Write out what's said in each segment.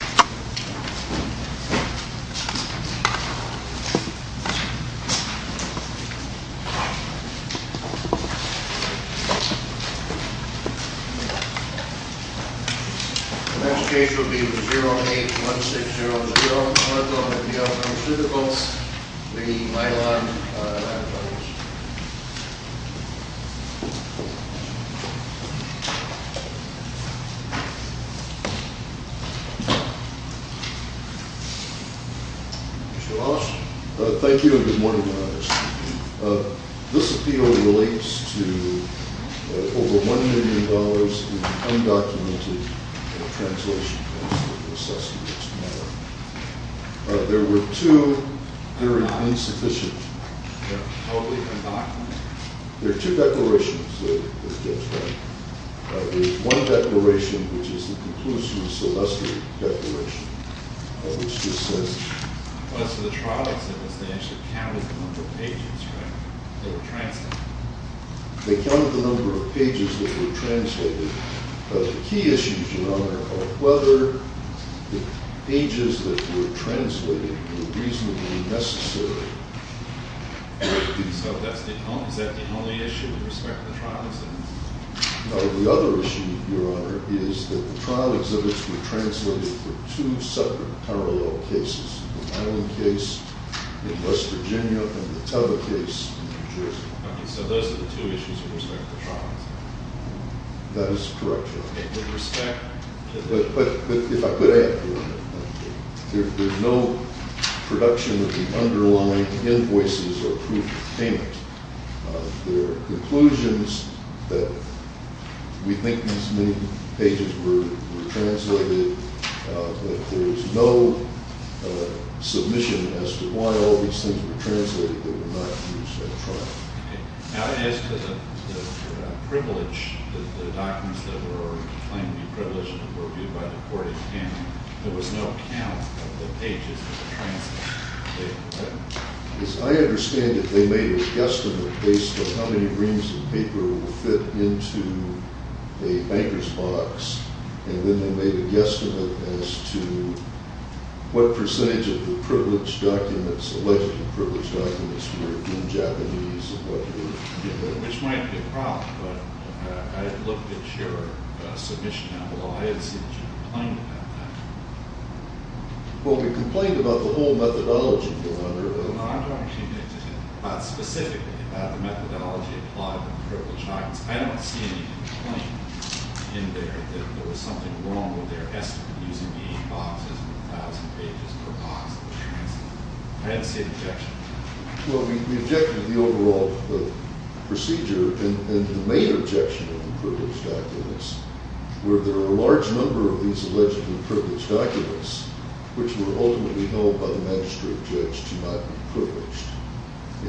The next case will be the 08-1603-O-Methyl-Mcneil-Pharmaceuticals v. Mylan Labs. Mr. Walsh? Thank you, and good morning to all of you. This appeal relates to over $1 million in undocumented translation costs for the assessment of this matter. There were two very insufficient... How are they undocumented? There are two declarations that were judged. There's one declaration, which is the conclusive Celeste Declaration, which just says... So the trial examiners, they actually counted the number of pages, right? That were translated. They counted the number of pages that were translated. But the key issue phenomena are whether the pages that were translated were reasonably necessary. So is that the only issue with respect to the trial exhibits? No, the other issue, Your Honor, is that the trial exhibits were translated for two separate parallel cases. The Mylan case in West Virginia and the Teva case in New Jersey. Okay, so those are the two issues with respect to the trial exhibits. That is correct, Your Honor. With respect to the... But if I could add, Your Honor, there's no production of the underlying invoices or proof of payment. There are conclusions that we think these new pages were translated, but there's no submission as to why all these things were translated that were not used in the trial. As to the privilege, the documents that were claimed to be privileged were viewed by the court in Canada. There was no count of the pages that were translated. As I understand it, they made a guesstimate based on how many reams of paper will fit into a banker's box, and then they made a guesstimate as to what percentage of the privileged documents, the selected privileged documents were in Japanese and what were given. Which might be a problem, but I looked at your submission, and although I had seen you complain about that... Well, we complained about the whole methodology, Your Honor. No, I'm talking specifically about the methodology applied in the privileged documents. I don't see any complaint in there that there was something wrong with their estimate, using the eight boxes and 1,000 pages per box of the transcripts. I don't see any objection. Well, we objected to the overall procedure, and the main objection of the privileged documents were there were a large number of these allegedly privileged documents which were ultimately held by the magistrate judge to not be privileged.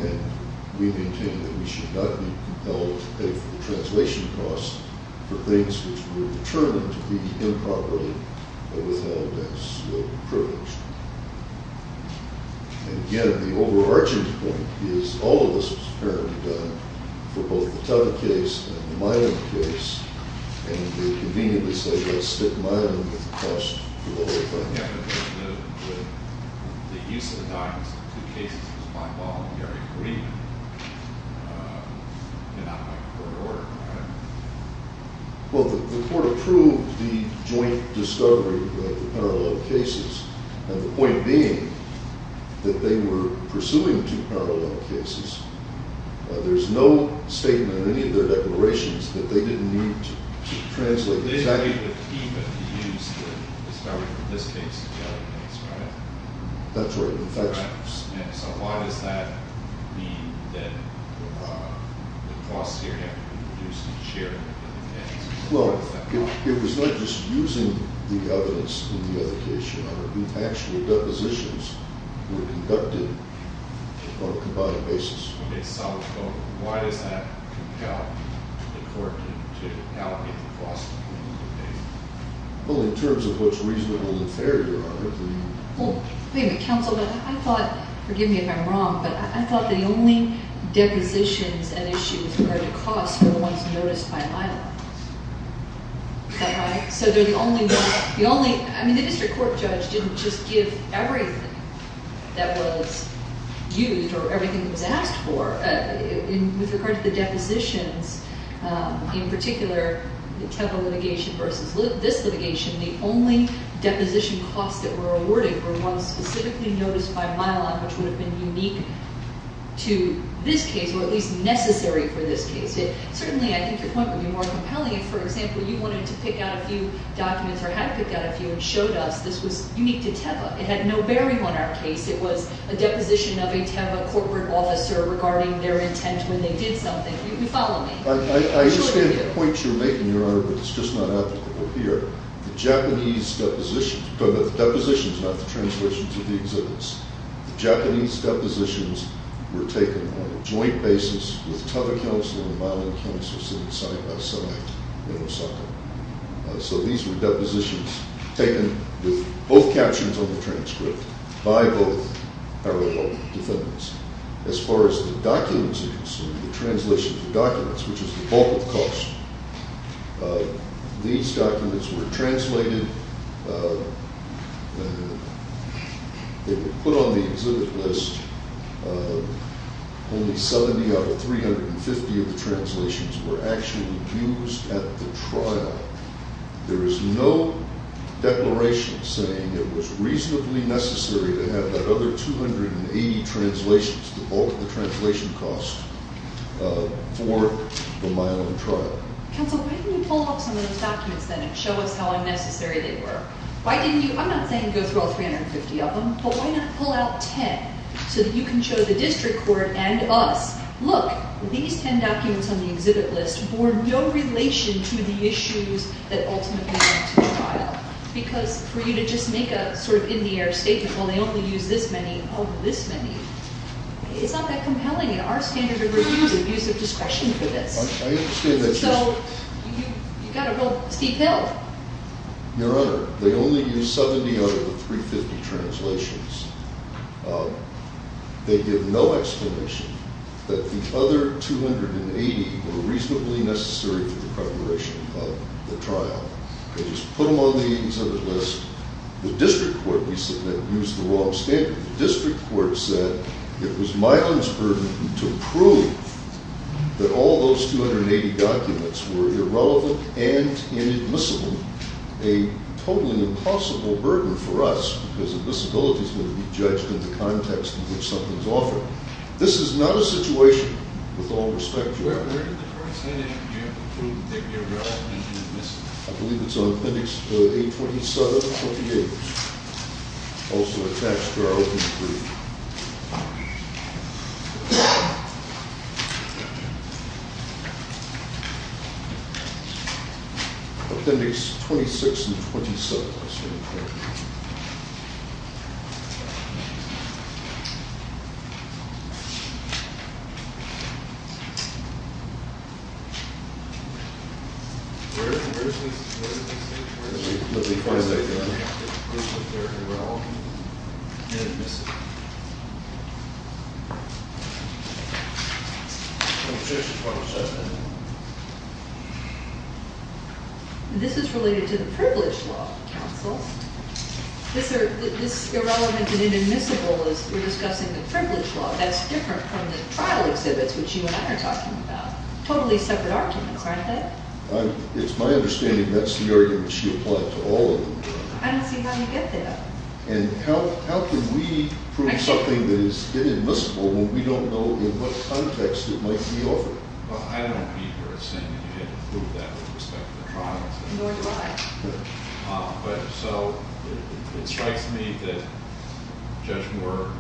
And we maintain that we should not be compelled to pay for the translation costs for things which were determined to be improperly withheld as privileged. And again, the overarching point is all of this was apparently done for both the Tama case and the Mayan case, and it would be convenient to say that stick Mayan with the cost for the whole thing. The use of the documents in two cases was my fault, and I agree. They're not in my court of order, Your Honor. Well, the court approved the joint discovery of the parallel cases, and the point being that they were pursuing two parallel cases. There's no statement in any of their declarations that they didn't need to translate exactly. They didn't need the key, but they used the discovery from this case and the other case, right? That's right. And so why does that mean that the cost here had to be reduced in share? Well, it was not just using the evidence in the other case, Your Honor. The actual depositions were conducted on a combined basis. Okay, so why does that compel the court to allocate the cost? Well, in terms of what's reasonable and fair, Your Honor. Well, wait a minute, counsel. I thought, forgive me if I'm wrong, but I thought the only depositions at issue with regard to cost were the ones noticed by Mylon. Is that right? So they're the only one. I mean, the district court judge didn't just give everything that was used or everything that was asked for. With regard to the depositions, in particular, the Teva litigation versus this litigation, the only deposition costs that were awarded were ones specifically noticed by Mylon, which would have been unique to this case or at least necessary for this case. Certainly, I think your point would be more compelling if, for example, you wanted to pick out a few documents or had to pick out a few and showed us this was unique to Teva. It had no bearing on our case. It was a deposition of a Teva corporate officer regarding their intent when they did something. You can follow me. I understand the point you're making, Your Honor, but it's just not applicable here. The Japanese depositions, not the translations of the exhibits, the Japanese depositions were taken on a joint basis with Teva Counsel and Mylon Counsel sitting side-by-side in Osaka. So these were depositions taken with both captions on the transcript by both Arroyo defendants. As far as the documents are concerned, the translation of the documents, which is the bulk of the cost, these documents were translated. They were put on the exhibit list. Only 70 out of 350 of the translations were actually used at the trial. There is no declaration saying it was reasonably necessary to have that other 280 translations, the bulk of the translation cost, for the Mylon trial. Counsel, why didn't you pull out some of those documents then and show us how unnecessary they were? Why didn't you? I'm not saying go through all 350 of them, but why not pull out 10 so that you can show the district court and us, look, these 10 documents on the exhibit list bore no relation to the issues that ultimately led to the trial. Because for you to just make a sort of in the air statement, well, they only used this many, oh, this many, it's not that compelling in our standard of reviews of use of discretion for this. So you've got a real steep hill. Your Honor, they only used 70 out of the 350 translations. They give no explanation that the other 280 were reasonably necessary for the preparation of the trial. They just put them on the exhibit list. The district court, we submit, used the wrong standard. The district court said it was Mylon's burden to prove that all those 280 documents were irrelevant and inadmissible, a totally impossible burden for us because admissibility is going to be judged in the context in which something is offered. This is not a situation, with all respect, Your Honor. Where did the court say that you have to prove they're irrelevant and admissible? I believe it's on appendix A27, 28. Also attached to our opening brief. Appendix 26 and 27. I believe it's on appendix A27. Where did the court say that you have to prove they're irrelevant and admissible? Appendix 26 and 27. This is related to the privilege law, counsel. This irrelevant and inadmissible is, we're discussing the privilege law. That's different from the trial exhibits, which you and I are talking about. Totally separate arguments, aren't they? It's my understanding that's the argument she applied to all of them. I don't see how you get there. And how can we prove something that is inadmissible when we don't know in what context it might be offered? Well, I don't agree with her in saying that you have to prove that with respect to the trial. Nor do I. So it strikes me that Judge Moore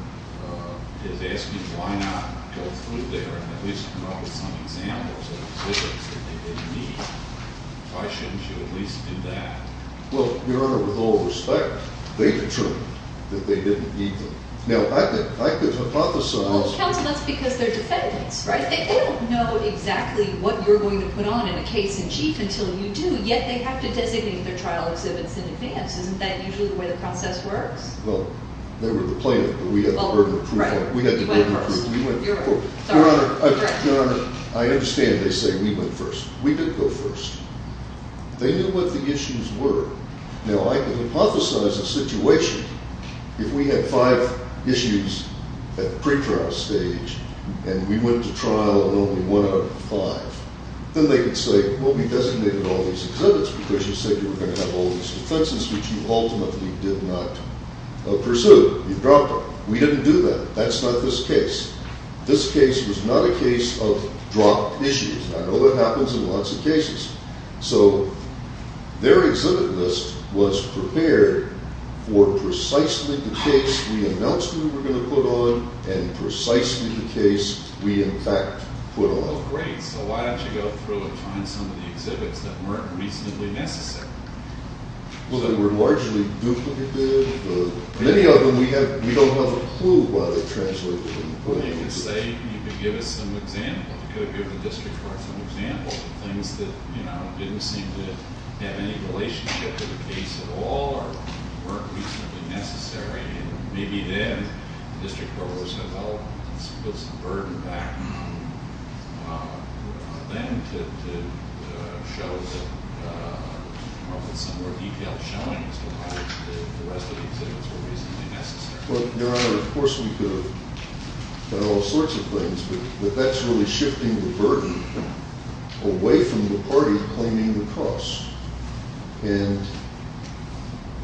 is asking why not go through there and at least come up with some examples of exhibits that they didn't need. Why shouldn't you at least do that? Well, Your Honor, with all respect, they determined that they didn't need them. Now, I could hypothesize- Well, counsel, that's because they're defendants, right? They don't know exactly what you're going to put on in a case in chief until you do. Yet they have to designate their trial exhibits in advance. Isn't that usually the way the process works? Well, they were the plaintiff, but we had the burden of proof. Right. You went first. Your Honor, I understand they say we went first. We did go first. They knew what the issues were. Now, I can hypothesize a situation. If we had five issues at pre-trial stage and we went to trial and only one out of five, then they could say, well, we designated all these exhibits because you said you were going to have all these defenses which you ultimately did not pursue. You dropped them. We didn't do that. That's not this case. This case was not a case of dropped issues. I know that happens in lots of cases. So their exhibit list was prepared for precisely the case we announced we were going to put on and precisely the case we, in fact, put on. Great. So why don't you go through and find some of the exhibits that weren't reasonably necessary? Well, they were largely duplicated. Many of them, we don't have a clue why they translated them. You could give us some examples. You could have given the district court some examples of things that didn't seem to have any relationship to the case at all or weren't reasonably necessary. And maybe then the district court would have said, well, let's put some burden back on them to show that with some more detailed showings, the rest of the exhibits were reasonably necessary. Well, Your Honor, of course we could have done all sorts of things, but that's really shifting the burden away from the party claiming the cost. And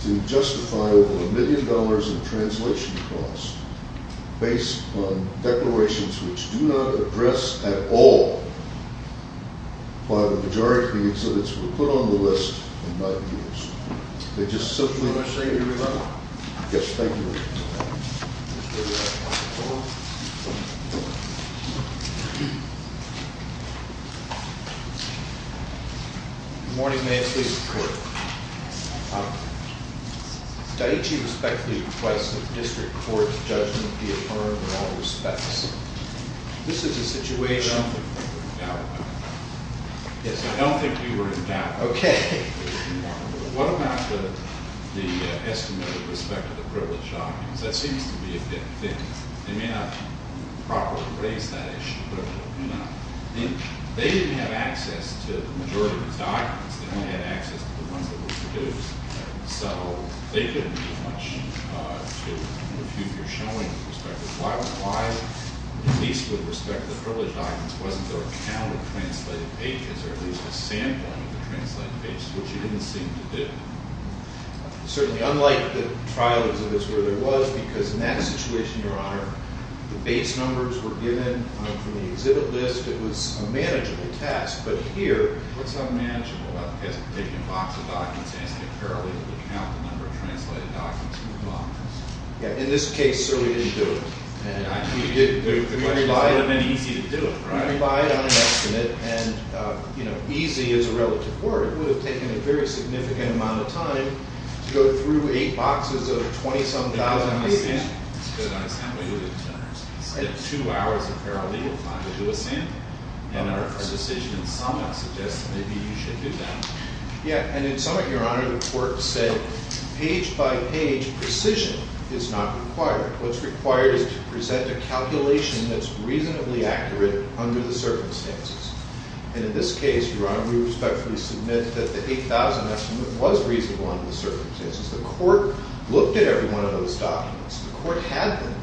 to justify over a million dollars in translation costs based on declarations which do not address at all why the majority of the exhibits were put on the list and not used. Do you want to say anything about it? Yes, thank you. Good morning, may I please report? Daiichi respectfully requests that the district court's judgment be affirmed in all respects. This is a situation- I don't think we were in doubt about that. Yes, I don't think we were in doubt. Okay. What about the estimate with respect to the privileged documents? That seems to be a different thing. They may not properly raise that issue, but they do not. They didn't have access to the majority of the documents. They only had access to the ones that were produced. So they couldn't do much to refute your showing with respect to that. Why, at least with respect to the privileged documents, wasn't there a count of translated pages or at least a sampling of the translated pages, which you didn't seem to do? Certainly unlike the trial exhibits where there was, because in that situation, Your Honor, the base numbers were given from the exhibit list. It was a manageable task. But here- What's unmanageable? I guess taking a box of documents and asking a paralegal to count the number of translated documents in the box. Yeah. In this case, sir, we didn't do it. We didn't do it. The question is, it would have been easy to do it, right? We relied on an estimate, and easy is a relative word. It would have taken a very significant amount of time to go through eight boxes of 20-some thousand pages. We would have spent two hours of paralegal time to do a sample. And our decision in summa suggests that maybe you should do that. Yeah. And in summa, Your Honor, the court said, page by page, precision is not required. What's required is to present a calculation that's reasonably accurate under the circumstances. And in this case, Your Honor, we respectfully submit that the 8,000 estimate was reasonable under the circumstances. The court looked at every one of those documents. The court had them.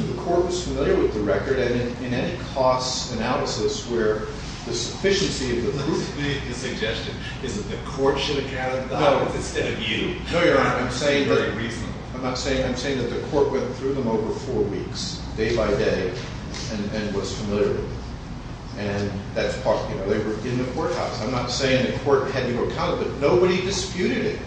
The court was familiar with the record. And in any cost analysis where the sufficiency of the- The suggestion is that the court should have counted the documents instead of you. No, Your Honor. I'm saying- It's not very reasonable. I'm not saying- I'm saying that the court went through them over four weeks, day by day, and was familiar with them. And that's part of the- Right. They were in the courthouse. I'm not saying the court had you accounted, but nobody disputed it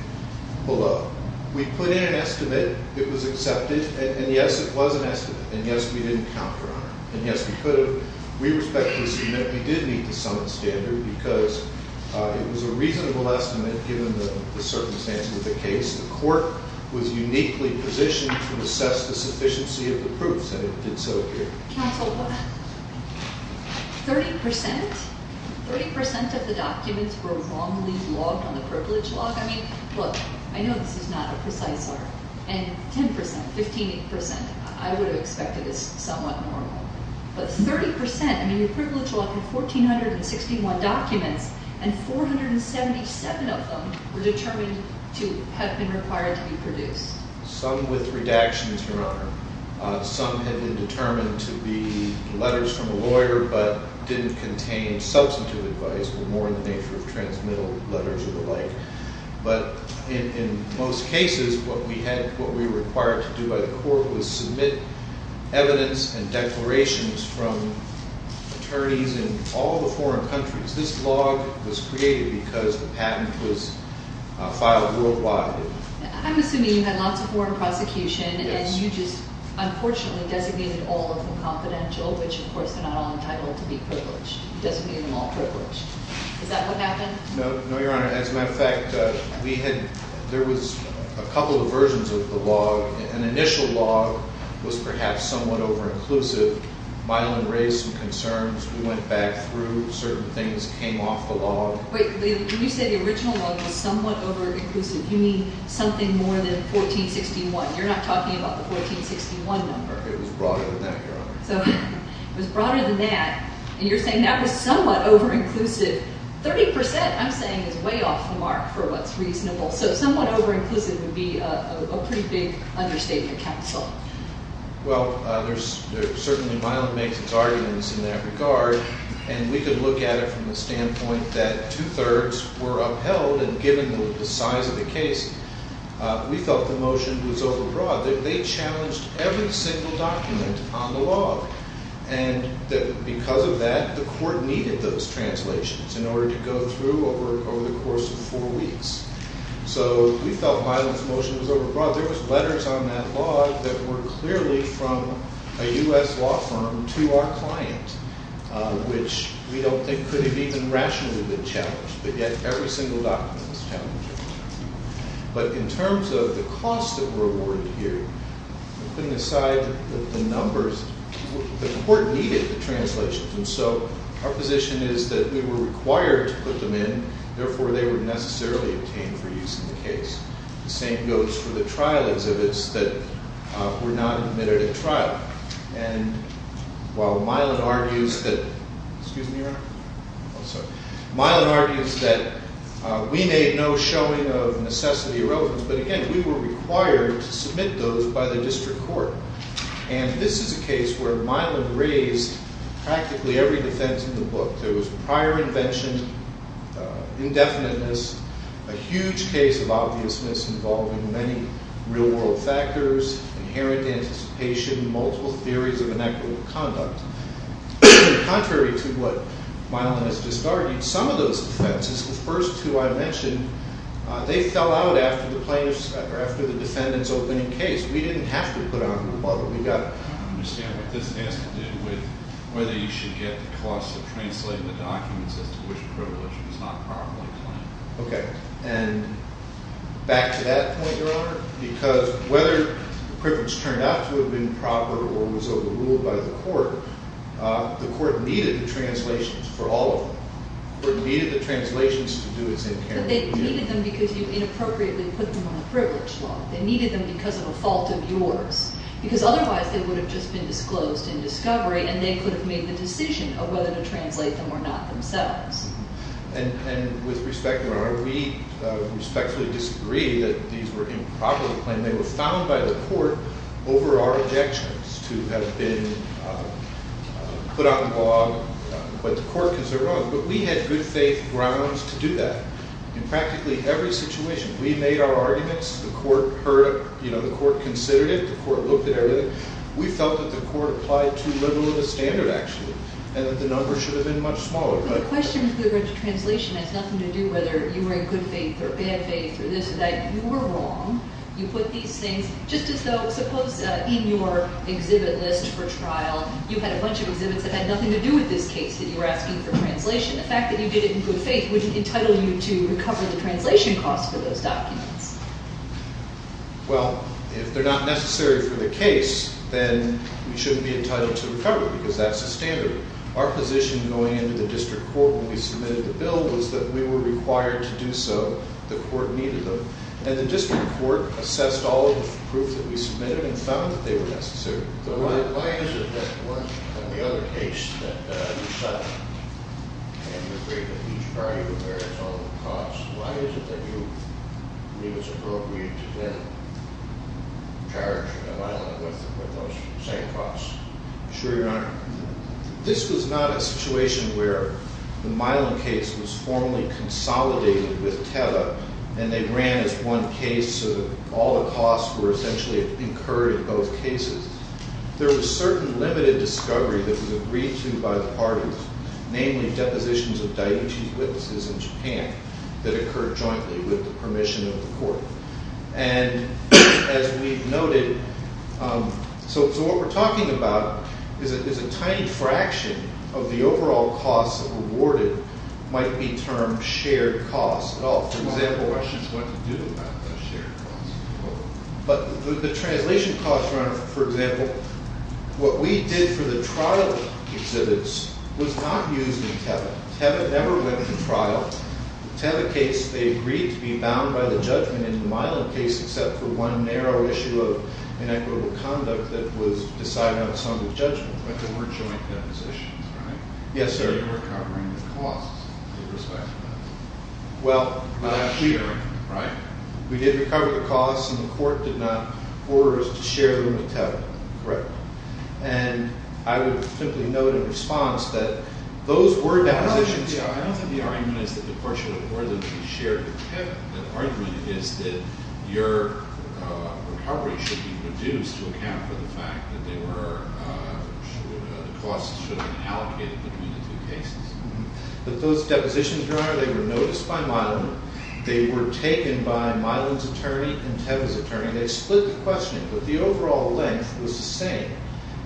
below. We put in an estimate. It was accepted. And, yes, it was an estimate. And, yes, we didn't count, Your Honor. And, yes, we could have. We respectfully submit we did meet the summit standard because it was a reasonable estimate given the circumstances of the case. The court was uniquely positioned to assess the sufficiency of the proofs, and it did so here. Counsel, what? 30%? 30% of the documents were wrongly logged on the privilege log? I mean, look, I know this is not a precise number, and 10%, 15%, I would have expected this somewhat normal. But 30%? I mean, your privilege log had 1,461 documents, and 477 of them were determined to have been required to be produced. Some with redactions, Your Honor. Some had been determined to be letters from a lawyer but didn't contain substantive advice, but more in the nature of transmittal letters or the like. But in most cases, what we required to do by the court was submit evidence and declarations from attorneys in all the foreign countries. This log was created because the patent was filed worldwide. I'm assuming you had lots of foreign prosecution, and you just unfortunately designated all of them confidential, which, of course, they're not all entitled to be privileged. You designated them all privileged. Is that what happened? No, Your Honor. As a matter of fact, there was a couple of versions of the log. An initial log was perhaps somewhat over-inclusive. Myelin raised some concerns. We went back through. Wait. When you say the original log was somewhat over-inclusive, you mean something more than 1461. You're not talking about the 1461 number. It was broader than that, Your Honor. It was broader than that, and you're saying that was somewhat over-inclusive. Thirty percent, I'm saying, is way off the mark for what's reasonable, so somewhat over-inclusive would be a pretty big understatement, counsel. Well, certainly Myelin makes its arguments in that regard, and we could look at it from the standpoint that two-thirds were upheld, and given the size of the case, we felt the motion was overbroad. They challenged every single document on the log, and because of that, the court needed those translations in order to go through over the course of four weeks. So we felt Myelin's motion was overbroad. There was letters on that log that were clearly from a U.S. law firm to our client. Which we don't think could have even rationally been challenged, but yet every single document was challenged. But in terms of the costs that were awarded here, putting aside the numbers, the court needed the translations, and so our position is that we were required to put them in, therefore they were necessarily obtained for use in the case. While Myelin argues that we made no showing of necessity or relevance, but again, we were required to submit those by the district court. And this is a case where Myelin raised practically every defense in the book. There was prior invention, indefiniteness, a huge case of obviousness involving many real-world factors, inherent anticipation, multiple theories of inequitable conduct. Contrary to what Myelin has just argued, some of those defenses, the first two I mentioned, they fell out after the defendant's opening case. We didn't have to put on the bubble. We got it. I don't understand what this has to do with whether you should get the cost of translating the documents as to which privilege was not properly claimed. Okay. And back to that point, Your Honor, because whether the privilege turned out to have been proper or was overruled by the court, the court needed the translations for all of them. The court needed the translations to do its incarnate duty. But they needed them because you inappropriately put them on the privilege law. They needed them because of a fault of yours, because otherwise they would have just been disclosed in discovery and they could have made the decision of whether to translate them or not themselves. And with respect, Your Honor, we respectfully disagree that these were improperly claimed. They were found by the court over our objections to have been put on the law. But the court can say wrong. But we had good-faith grounds to do that. In practically every situation, we made our arguments. The court heard it. You know, the court considered it. The court looked at everything. We felt that the court applied too liberal of a standard, actually, and that the numbers should have been much smaller. But the question with regard to translation has nothing to do whether you were in good faith or bad faith or this or that. You were wrong. You put these things just as though, suppose in your exhibit list for trial, you had a bunch of exhibits that had nothing to do with this case that you were asking for translation. The fact that you did it in good faith wouldn't entitle you to recover the translation costs for those documents. Well, if they're not necessary for the case, then we shouldn't be entitled to recover them because that's the standard. Our position going into the district court when we submitted the bill was that we were required to do so. The court needed them. And the district court assessed all of the proof that we submitted and found that they were necessary. So why is it that in the other case that you cited, and you agreed that each party would bear its own costs, why is it that you believe it's appropriate to then charge an ally with those same costs? I assure you, Your Honor, this was not a situation where the Milan case was formally consolidated with TEVA and they ran as one case so that all the costs were essentially incurred in both cases. There was certain limited discovery that was agreed to by the parties, namely depositions of Daiichi's witnesses in Japan that occurred jointly with the permission of the court. And as we've noted, so what we're talking about is a tiny fraction of the overall costs awarded might be termed shared costs at all. For example, but the translation costs, Your Honor, for example, what we did for the trial exhibits was not used in TEVA. TEVA never went to trial. In the TEVA case, they agreed to be bound by the judgment in the Milan case, except for one narrow issue of inequitable conduct that was decided on a sum of judgment. But there were joint depositions, right? Yes, sir. They were covering the costs with respect to that. Well, not sharing, right? We did recover the costs and the court did not order us to share them with TEVA. Correct. And I would simply note in response that those were depositions. I don't think the argument is that the portion of it should be shared with TEVA. The argument is that your recovery should be reduced to account for the fact that they were... the costs should have been allocated between the two cases. But those depositions, Your Honor, they were noticed by Milan. They were taken by Milan's attorney and TEVA's attorney. They split the questioning, but the overall length was the same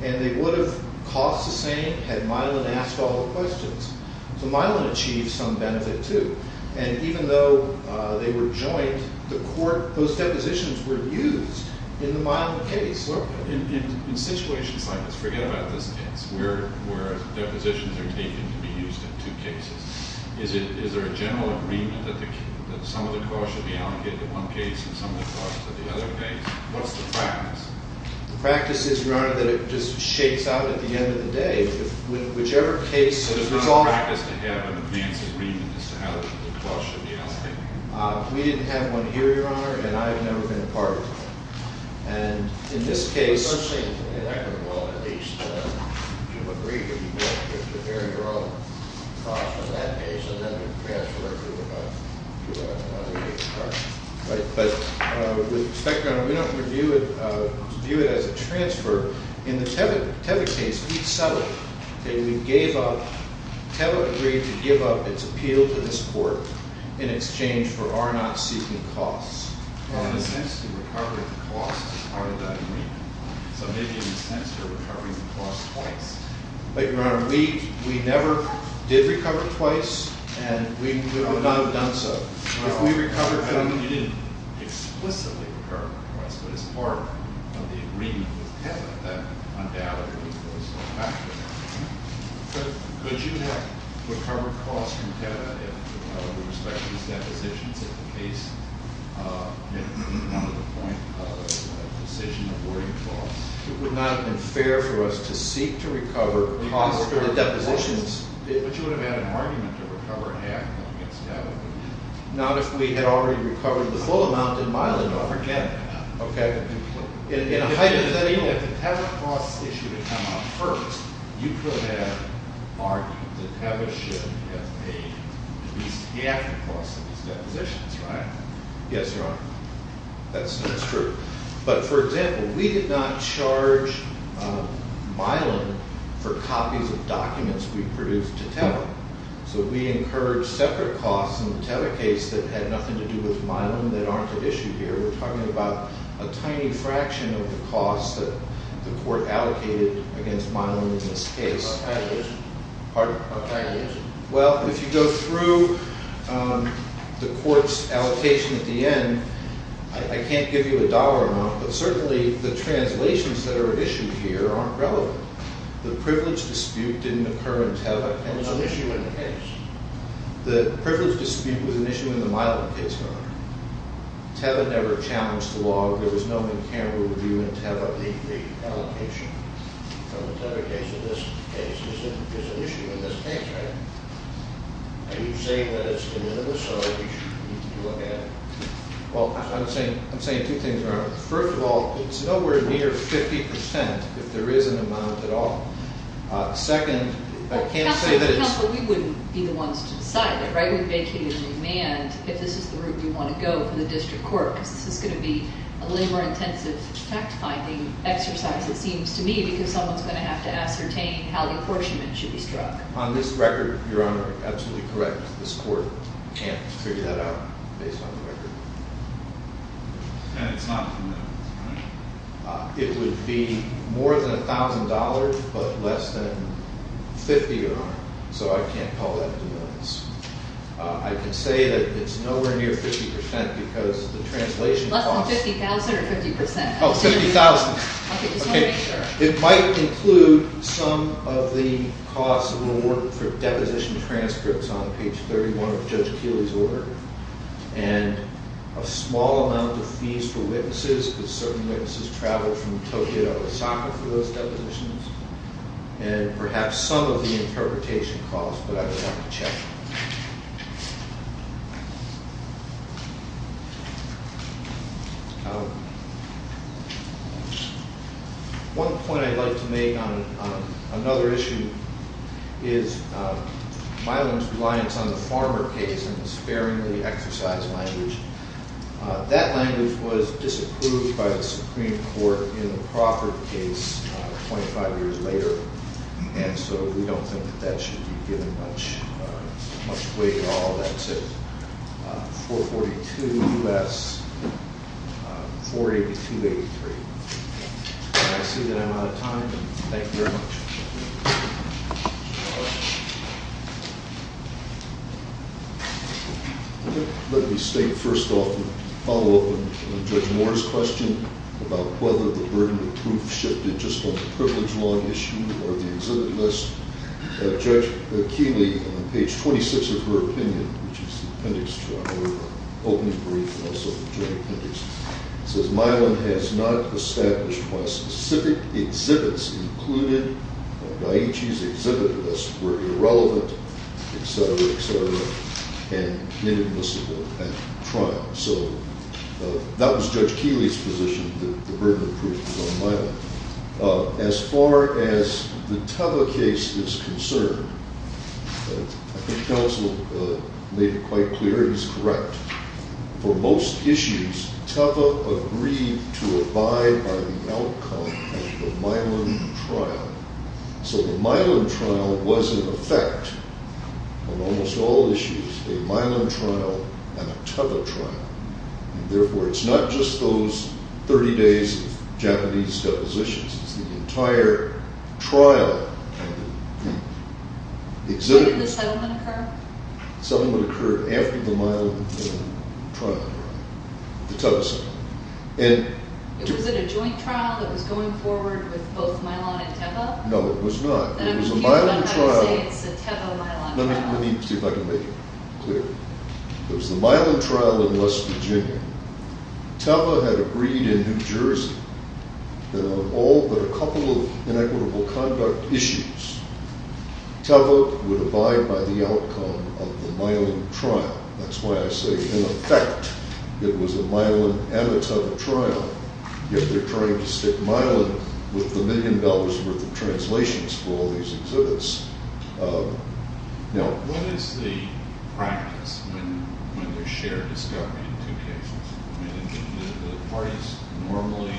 and they would have cost the same had Milan asked all the questions. So Milan achieved some benefit, too. And even though they were joint, the court... those depositions were used in the Milan case. In situations like this, forget about this case, where depositions are taken to be used in two cases, is there a general agreement that some of the costs should be allocated to one case and some of the costs to the other case? What's the practice? The practice is, Your Honor, that it just shakes out at the end of the day. Whichever case is resolved... We didn't have one here, Your Honor, and I've never been a part of it. And in this case... Right, but, Inspector, we don't review it... view it as a transfer. In the TEVA case, we settled that we gave up... in exchange for our not seeking costs. But, Your Honor, we never did recover twice, and we would not have done so. If we recovered... ...depositions at the case... It would not have been fair for us to seek to recover... ...depositions. But you would have had an argument to recover half of it. Not if we had already recovered the full amount in Milan, but... If the TEVA costs issue had come up first, you could have argued that TEVA should have paid at least half the costs of these depositions, right? Yes, Your Honor. That's true. But, for example, we did not charge Milan for copies of documents we produced to TEVA. So we encouraged separate costs in the TEVA case that had nothing to do with Milan that aren't at issue here. We're talking about a tiny fraction of the costs that the court allocated against Milan in this case. How tiny is it? Pardon? How tiny is it? Well, if you go through the court's allocation at the end, I can't give you a dollar amount, but certainly the translations that are issued here aren't relevant. The privilege dispute didn't occur in TEVA. There was no issue in the case. The privilege dispute was an issue in the Milan case, Your Honor. TEVA never challenged the law. There was no in-camera review in TEVA. The allocation from the TEVA case to this case is an issue in this case, Your Honor. Are you saying that it's minimal? Or do you need to look at it? Well, I'm saying two things, Your Honor. First of all, it's nowhere near 50% if there is an amount at all. Second, I can't say that it's... Counsel, we wouldn't be the ones to decide that, right? We're vacating the demand if this is the route we want to go for the district court, because this is going to be a labor-intensive fact-finding exercise, it seems to me, because someone's going to have to ascertain how the apportionment should be struck. On this record, Your Honor, you're absolutely correct. This court can't figure that out based on the record. And it's not in the millions, right? It would be more than $1,000, but less than 50, Your Honor. So I can't call that in the millions. I can say that it's nowhere near 50% because the translation costs... Less than 50,000 or 50%? Oh, 50,000. It might include some of the costs of the work for deposition transcripts on page 31 of Judge Keeley's order, and a small amount of fees for witnesses, because certain witnesses traveled from Tokyo to Osaka for those depositions, and perhaps some of the interpretation costs, but I would have to check. One point I'd like to make on another issue is Milam's reliance on the Farmer case and his sparingly exercised language. That language was disapproved by the Supreme Court in the Crawford case 25 years later, and so we don't think that that should be given much weight at all. So that's it. 442 U.S., 482-83. I see that I'm out of time. Thank you very much. Let me state first off and follow up on Judge Moore's question about whether the burden of proof shifted just on the privilege law issue or the exhibit list. Judge Keeley, on page 26 of her opinion, which is the appendix to our opening brief and also the jury appendix, says Milam has not established why specific exhibits included by Da'ichi's exhibit list were irrelevant, etc., etc., and inadmissible at trial. that the burden of proof was on Milam. As far as the Tava case is concerned, I think counsel made it quite clear he's correct. For most issues, Tava agreed to abide by the outcome of the Milam trial. So the Milam trial was, in effect, on almost all issues, a Milam trial and a Tava trial. Therefore, it's not just those 30 days of Japanese depositions. It's the entire trial. When did the settlement occur? The settlement occurred after the Milam trial. The Tava settlement. Was it a joint trial that was going forward with both Milam and Tava? No, it was not. Then I'm confused on how you say it's a Tava-Milam trial. Let me see if I can make it clear. It was the Milam trial in West Virginia. Tava had agreed in New Jersey that on all but a couple of inequitable conduct issues, Tava would abide by the outcome of the Milam trial. That's why I say, in effect, it was a Milam and a Tava trial. Yet they're trying to stick Milam with a million dollars worth of translations for all these exhibits. What is the practice when there's a shared discovery in two cases? Do the parties normally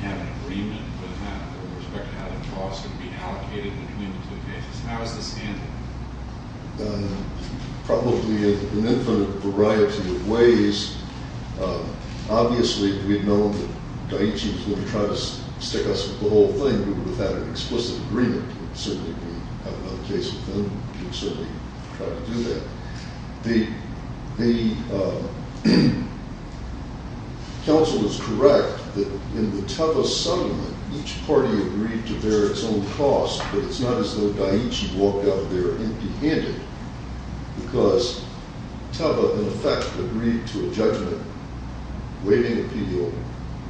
have an agreement with respect to how the costs are going to be allocated between the two cases? How is this handled? Probably in an infinite variety of ways. Obviously, if we'd known that Daiichi was going to try to stick us with the whole thing, we would have had an explicit agreement. Certainly, if we had another case with him, we would certainly try to do that. The council is correct that in the Tava settlement, each party agreed to bear its own cost, but it's not as though Daiichi walked out of there empty-handed because Tava, in effect, agreed to a judgment-weighting appeal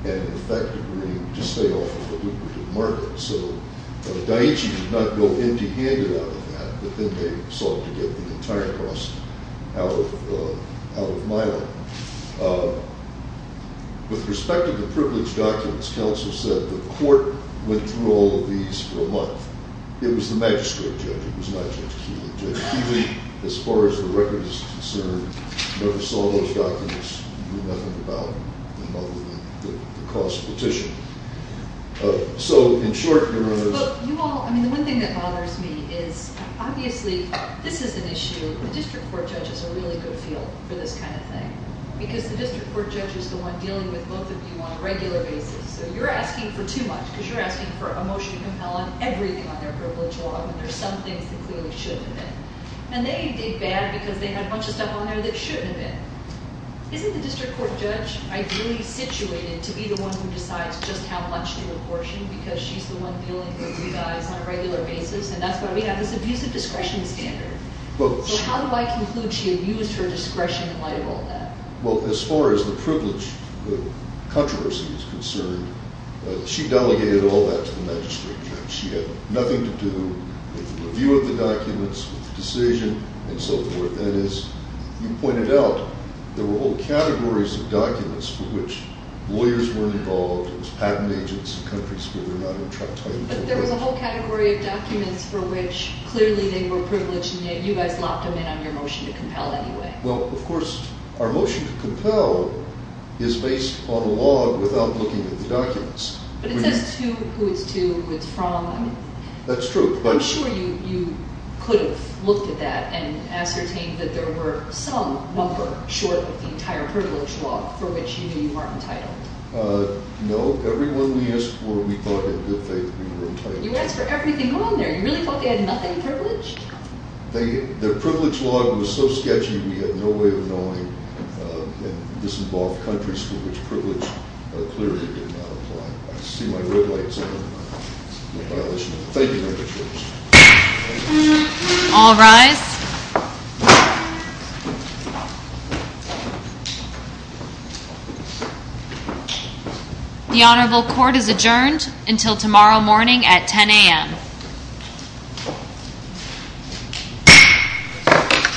and, in effect, agreed to stay off of the lucrative market. So Daiichi did not go empty-handed out of that, but then they sought to get the entire cost out of Milo. With respect to the privilege documents, council said the court went through all of these for a month. It was the magistrate judge. It was not Judge Keeley. Judge Keeley, as far as the record is concerned, never saw those documents and knew nothing about them other than the cost petition. So, in short, your Honor... You all... I mean, the one thing that bothers me is, obviously, this is an issue... The district court judge has a really good feel for this kind of thing because the district court judge is the one dealing with both of you on a regular basis. So you're asking for too much because you're asking for a motion to compel on everything on their privilege law and there's some things that clearly shouldn't have been. And they did bad because they had a bunch of stuff on there that shouldn't have been. Isn't the district court judge ideally situated to be the one who decides just how much to apportion because she's the one dealing with you guys on a regular basis and that's why we have this abusive discretion standard. So how do I conclude she abused her discretion in light of all that? Well, as far as the privilege controversy is concerned, she delegated all that to the magistrate judge. She had nothing to do with the review of the documents, with the decision, and so forth. And as you pointed out, there were whole categories of documents for which lawyers weren't involved, it was patent agents in countries where they're not even trying to... But there was a whole category of documents for which clearly they were privileged and yet you guys locked them in on your motion to compel anyway. Well, of course, our motion to compel is based on a log without looking at the documents. But it says who it's to, who it's from. That's true. I'm sure you could have looked at that and ascertained that there were some number short of the entire privilege log for which you knew you weren't entitled. No. Every one we asked for we thought in good faith we were entitled to. You asked for everything on there. You really thought they had nothing privileged? Their privilege log was so sketchy we had no way of knowing in disinvolved countries for which privilege clearly did not apply. I see my red lights in violation. Thank you very much. All rise. The Honorable Court is adjourned until tomorrow morning at 10 a.m.